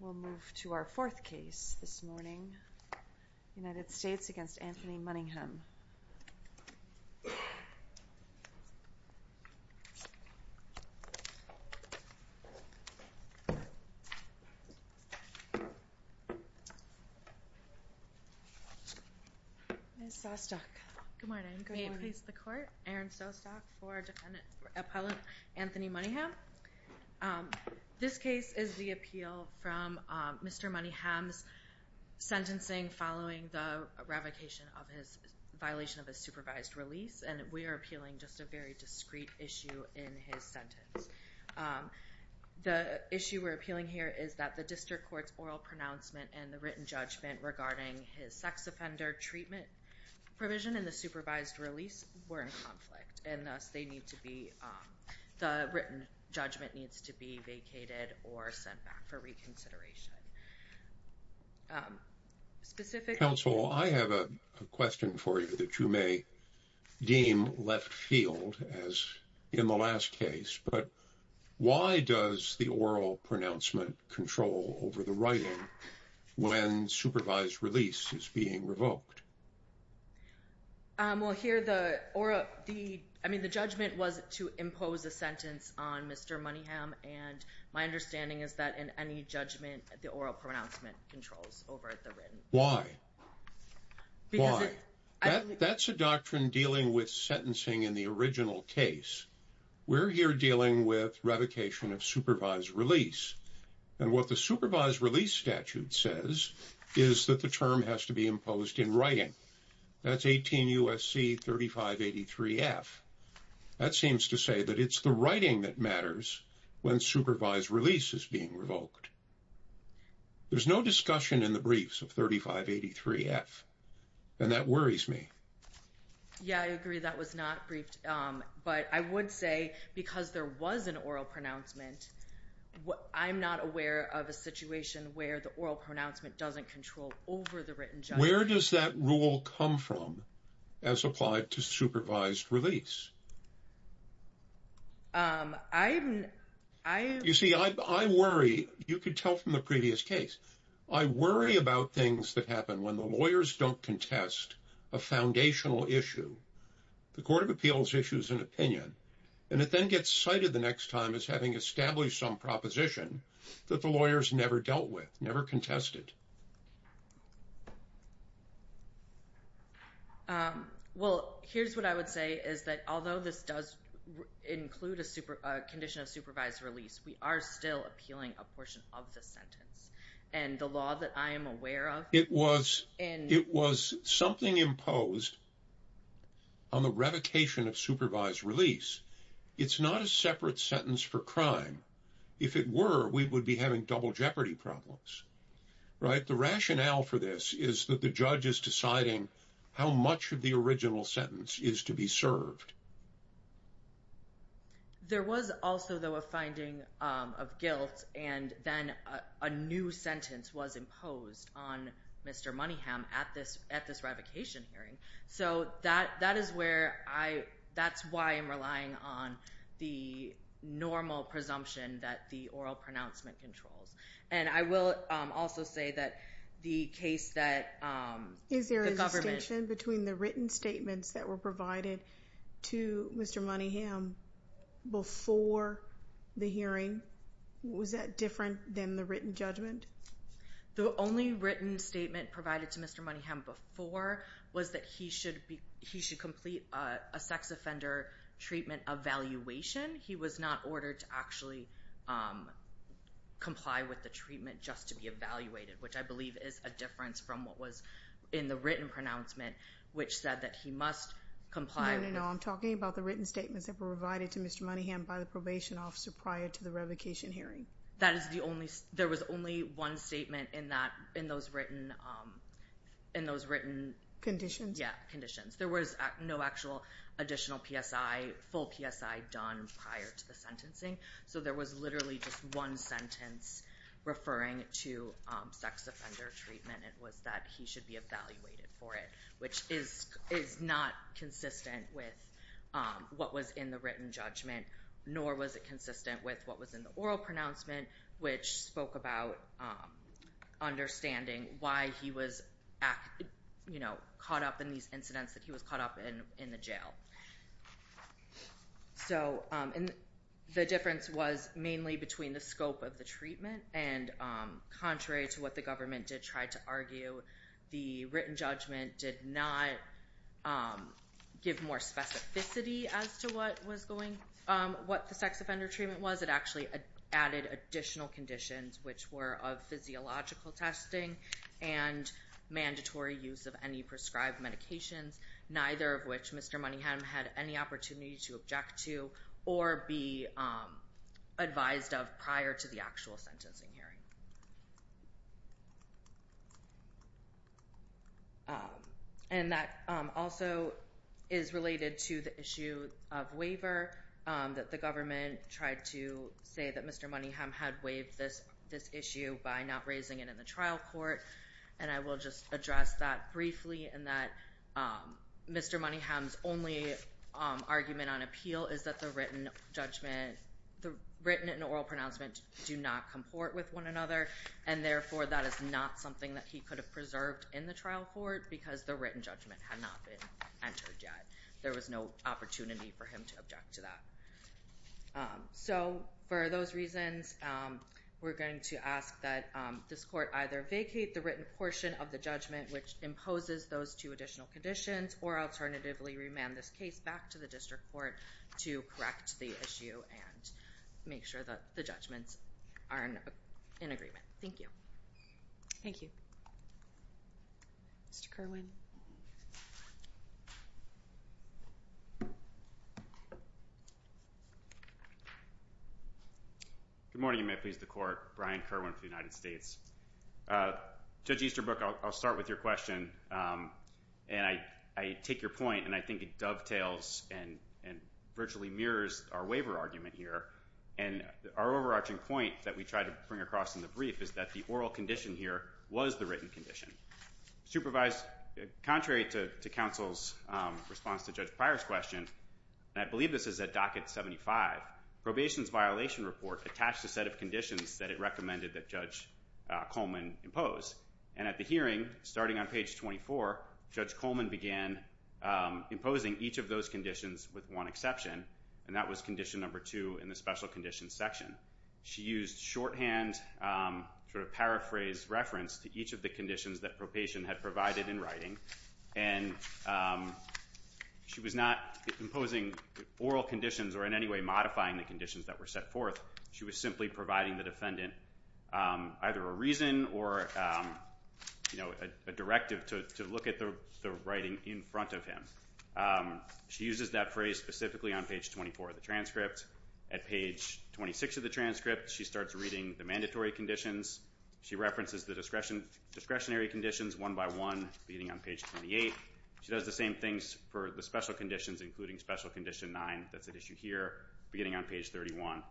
We'll move to our fourth case this morning, United States v. Anthony Moneyham. Ms. Sostok. Good morning. Good morning. May it please the Court, Aaron Sostok for Defendant Appellant Anthony Moneyham. This case is the appeal from Mr. Moneyham's sentencing following the revocation of his, violation of his supervised release. And we are appealing just a very discreet issue in his sentence. The issue we're appealing here is that the District Court's oral pronouncement and the written judgment regarding his sex offender treatment provision and the supervised release were in conflict and thus they need to be, the written judgment needs to be vacated or sent back for reconsideration. Specific... Counsel, I have a question for you that you may deem left field as in the last case, but why does the oral pronouncement control over the writing when supervised release is being revoked? Well, here the, I mean the judgment was to impose a sentence on Mr. Moneyham and my understanding is that in any judgment the oral pronouncement controls over the written. Why? Why? Because it... That's a doctrine dealing with sentencing in the original case. We're here dealing with revocation of supervised release. And what the supervised release statute says is that the term has to be imposed in writing. That's 18 U.S.C. 3583 F. That seems to say that it's the writing that matters when supervised release is being revoked. There's no discussion in the briefs of 3583 F. And that worries me. Yeah, I agree that was not briefed. But I would say because there was an oral pronouncement, I'm not aware of a situation where the oral pronouncement doesn't control over the written judgment. Where does that rule come from as applied to supervised release? I... You see, I worry, you could tell from the previous case, I worry about things that happen when the lawyers don't contest a foundational issue. The Court of Appeals issues an opinion and it then gets cited the next time as having established some proposition that the lawyers never dealt with, never contested. Well, here's what I would say is that although this does include a condition of supervised release, we are still appealing a portion of the sentence. And the law that I am aware of... It was something imposed on the revocation of supervised release. It's not a separate sentence for crime. If it were, we would be having double jeopardy problems, right? The rationale for this is that the judge is deciding how much of the original sentence is to be served. There was also, though, a finding of guilt, and then a new sentence was imposed on Mr. Moneyham at this revocation hearing. So that is where I... That's why I'm relying on the normal presumption that the oral pronouncement controls. And I will also say that the case that the government... provided to Mr. Moneyham before the hearing, was that different than the written judgment? The only written statement provided to Mr. Moneyham before was that he should complete a sex offender treatment evaluation. He was not ordered to actually comply with the treatment just to be evaluated, which I believe is a difference from what was in the written pronouncement, which said that he must comply with... No, no, no. I'm talking about the written statements that were provided to Mr. Moneyham by the probation officer prior to the revocation hearing. That is the only... There was only one statement in those written... Conditions. Yeah, conditions. There was no actual additional PSI, full PSI, done prior to the sentencing. So there was literally just one sentence referring to sex offender treatment, and it was that he should be evaluated for it, which is not consistent with what was in the written judgment, nor was it consistent with what was in the oral pronouncement, which spoke about understanding why he was caught up in these incidents, that he was caught up in the jail. So the difference was mainly between the scope of the treatment and, contrary to what the government did try to argue, the written judgment did not give more specificity as to what was going... What the sex offender treatment was. It actually added additional conditions, which were of physiological testing and mandatory use of any prescribed medications, neither of which Mr. Moneyham had any opportunity to object to or be advised of prior to the actual sentencing hearing. And that also is related to the issue of waiver, that the government tried to say that Mr. Moneyham had waived this issue by not raising it in the trial court, and I will just address that briefly, and that Mr. Moneyham's only argument on appeal is that the written judgment, the written and oral pronouncement do not comport with one another, and therefore that is not something that he could have preserved in the trial court because the written judgment had not been entered yet. There was no opportunity for him to object to that. So for those reasons, we're going to ask that this court either vacate the written portion of the judgment which imposes those two additional conditions or alternatively remand this case back to the district court to correct the issue and make sure that the judgments are in agreement. Thank you. Thank you. Mr. Kerwin. Good morning. You may please the court. Brian Kerwin for the United States. Judge Easterbrook, I'll start with your question, and I take your point, and I think it dovetails and virtually mirrors our waiver argument here, and our overarching point that we tried to bring across in the brief is that the oral condition here was the written condition. Contrary to counsel's response to Judge Pryor's question, and I believe this is at docket 75, probation's violation report attached a set of conditions that it recommended that Judge Coleman impose, and at the hearing, starting on page 24, Judge Coleman began imposing each of those conditions with one exception, and that was condition number two in the special conditions section. She used shorthand sort of paraphrase reference to each of the conditions that probation had provided in writing, and she was not imposing oral conditions or in any way modifying the conditions that were set forth. She was simply providing the defendant either a reason or, you know, a directive to look at the writing in front of him. She uses that phrase specifically on page 24 of the transcript. At page 26 of the transcript, she starts reading the mandatory conditions. She references the discretionary conditions one by one, beginning on page 28. She does the same things for the special conditions, including special condition nine. That's at issue here, beginning on page 31.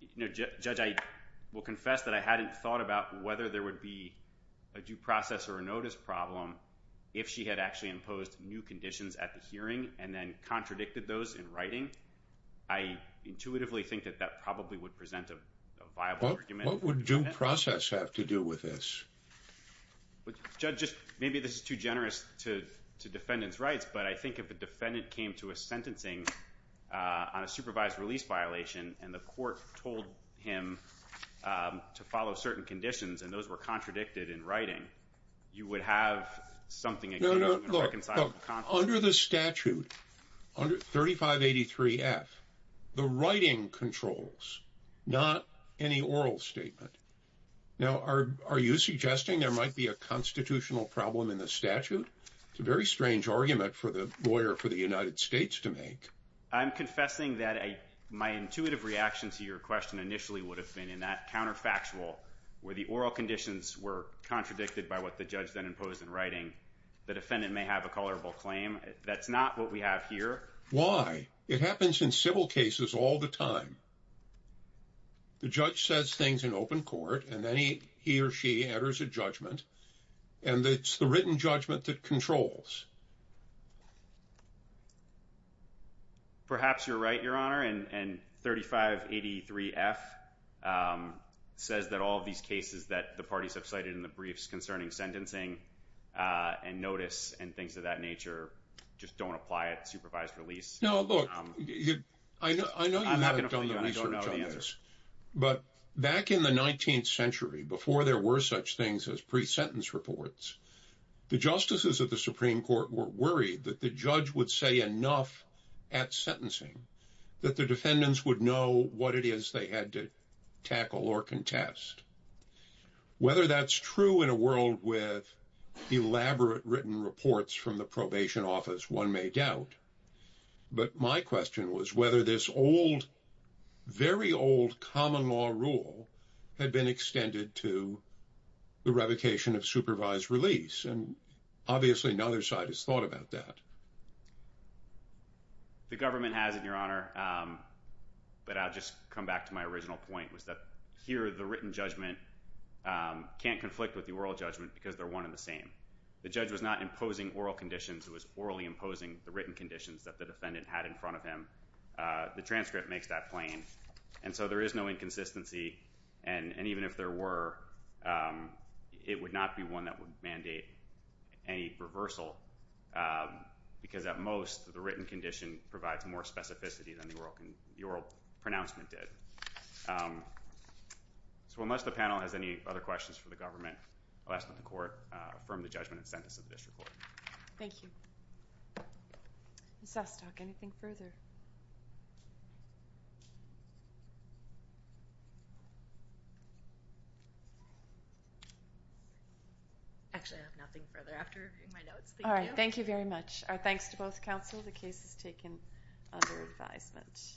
You know, Judge, I will confess that I hadn't thought about whether there would be a due process or a notice problem if she had actually imposed new conditions at the hearing and then contradicted those in writing. I intuitively think that that probably would present a viable argument. What would due process have to do with this? Judge, maybe this is too generous to defendants' rights, but I think if a defendant came to a sentencing on a supervised release violation and the court told him to follow certain conditions and those were contradicted in writing, you would have something that could have been reconciled. Under the statute, 3583F, the writing controls, not any oral statement. Now, are you suggesting there might be a constitutional problem in the statute? It's a very strange argument for the lawyer for the United States to make. I'm confessing that my intuitive reaction to your question initially would have been in that counterfactual where the oral conditions were contradicted by what the judge then imposed in writing. The defendant may have a colorable claim. That's not what we have here. Why? It happens in civil cases all the time. The judge says things in open court and then he or she enters a judgment and it's the written judgment that controls. Perhaps you're right, Your Honor, and 3583F says that all of these cases that the parties have cited in the briefs concerning sentencing and notice and things of that nature just don't apply at supervised release. No, look, I know you haven't done the research on this, but back in the 19th century, before there were such things as pre-sentence reports, the justices of the Supreme Court were worried that the judge would say enough at sentencing that the defendants would know what it is they had to tackle or contest. Whether that's true in a world with elaborate written reports from the probation office, one may doubt, but my question was whether this old, very old common law rule had been extended to the revocation of supervised release, and obviously neither side has thought about that. The government has, Your Honor, but I'll just come back to my original point, which is that here the written judgment can't conflict with the oral judgment because they're one and the same. The judge was not imposing oral conditions. It was orally imposing the written conditions that the defendant had in front of him. The transcript makes that plain, and so there is no inconsistency, and even if there were, it would not be one that would mandate any reversal because at most the written condition provides more specificity than the oral pronouncement did. So unless the panel has any other questions for the government, I'll ask that the court affirm the judgment and sentence of the district court. Thank you. Ms. Ostock, anything further? Actually, I have nothing further after reviewing my notes. Thank you. Thank you very much. Our thanks to both counsel. The case is taken under advisement.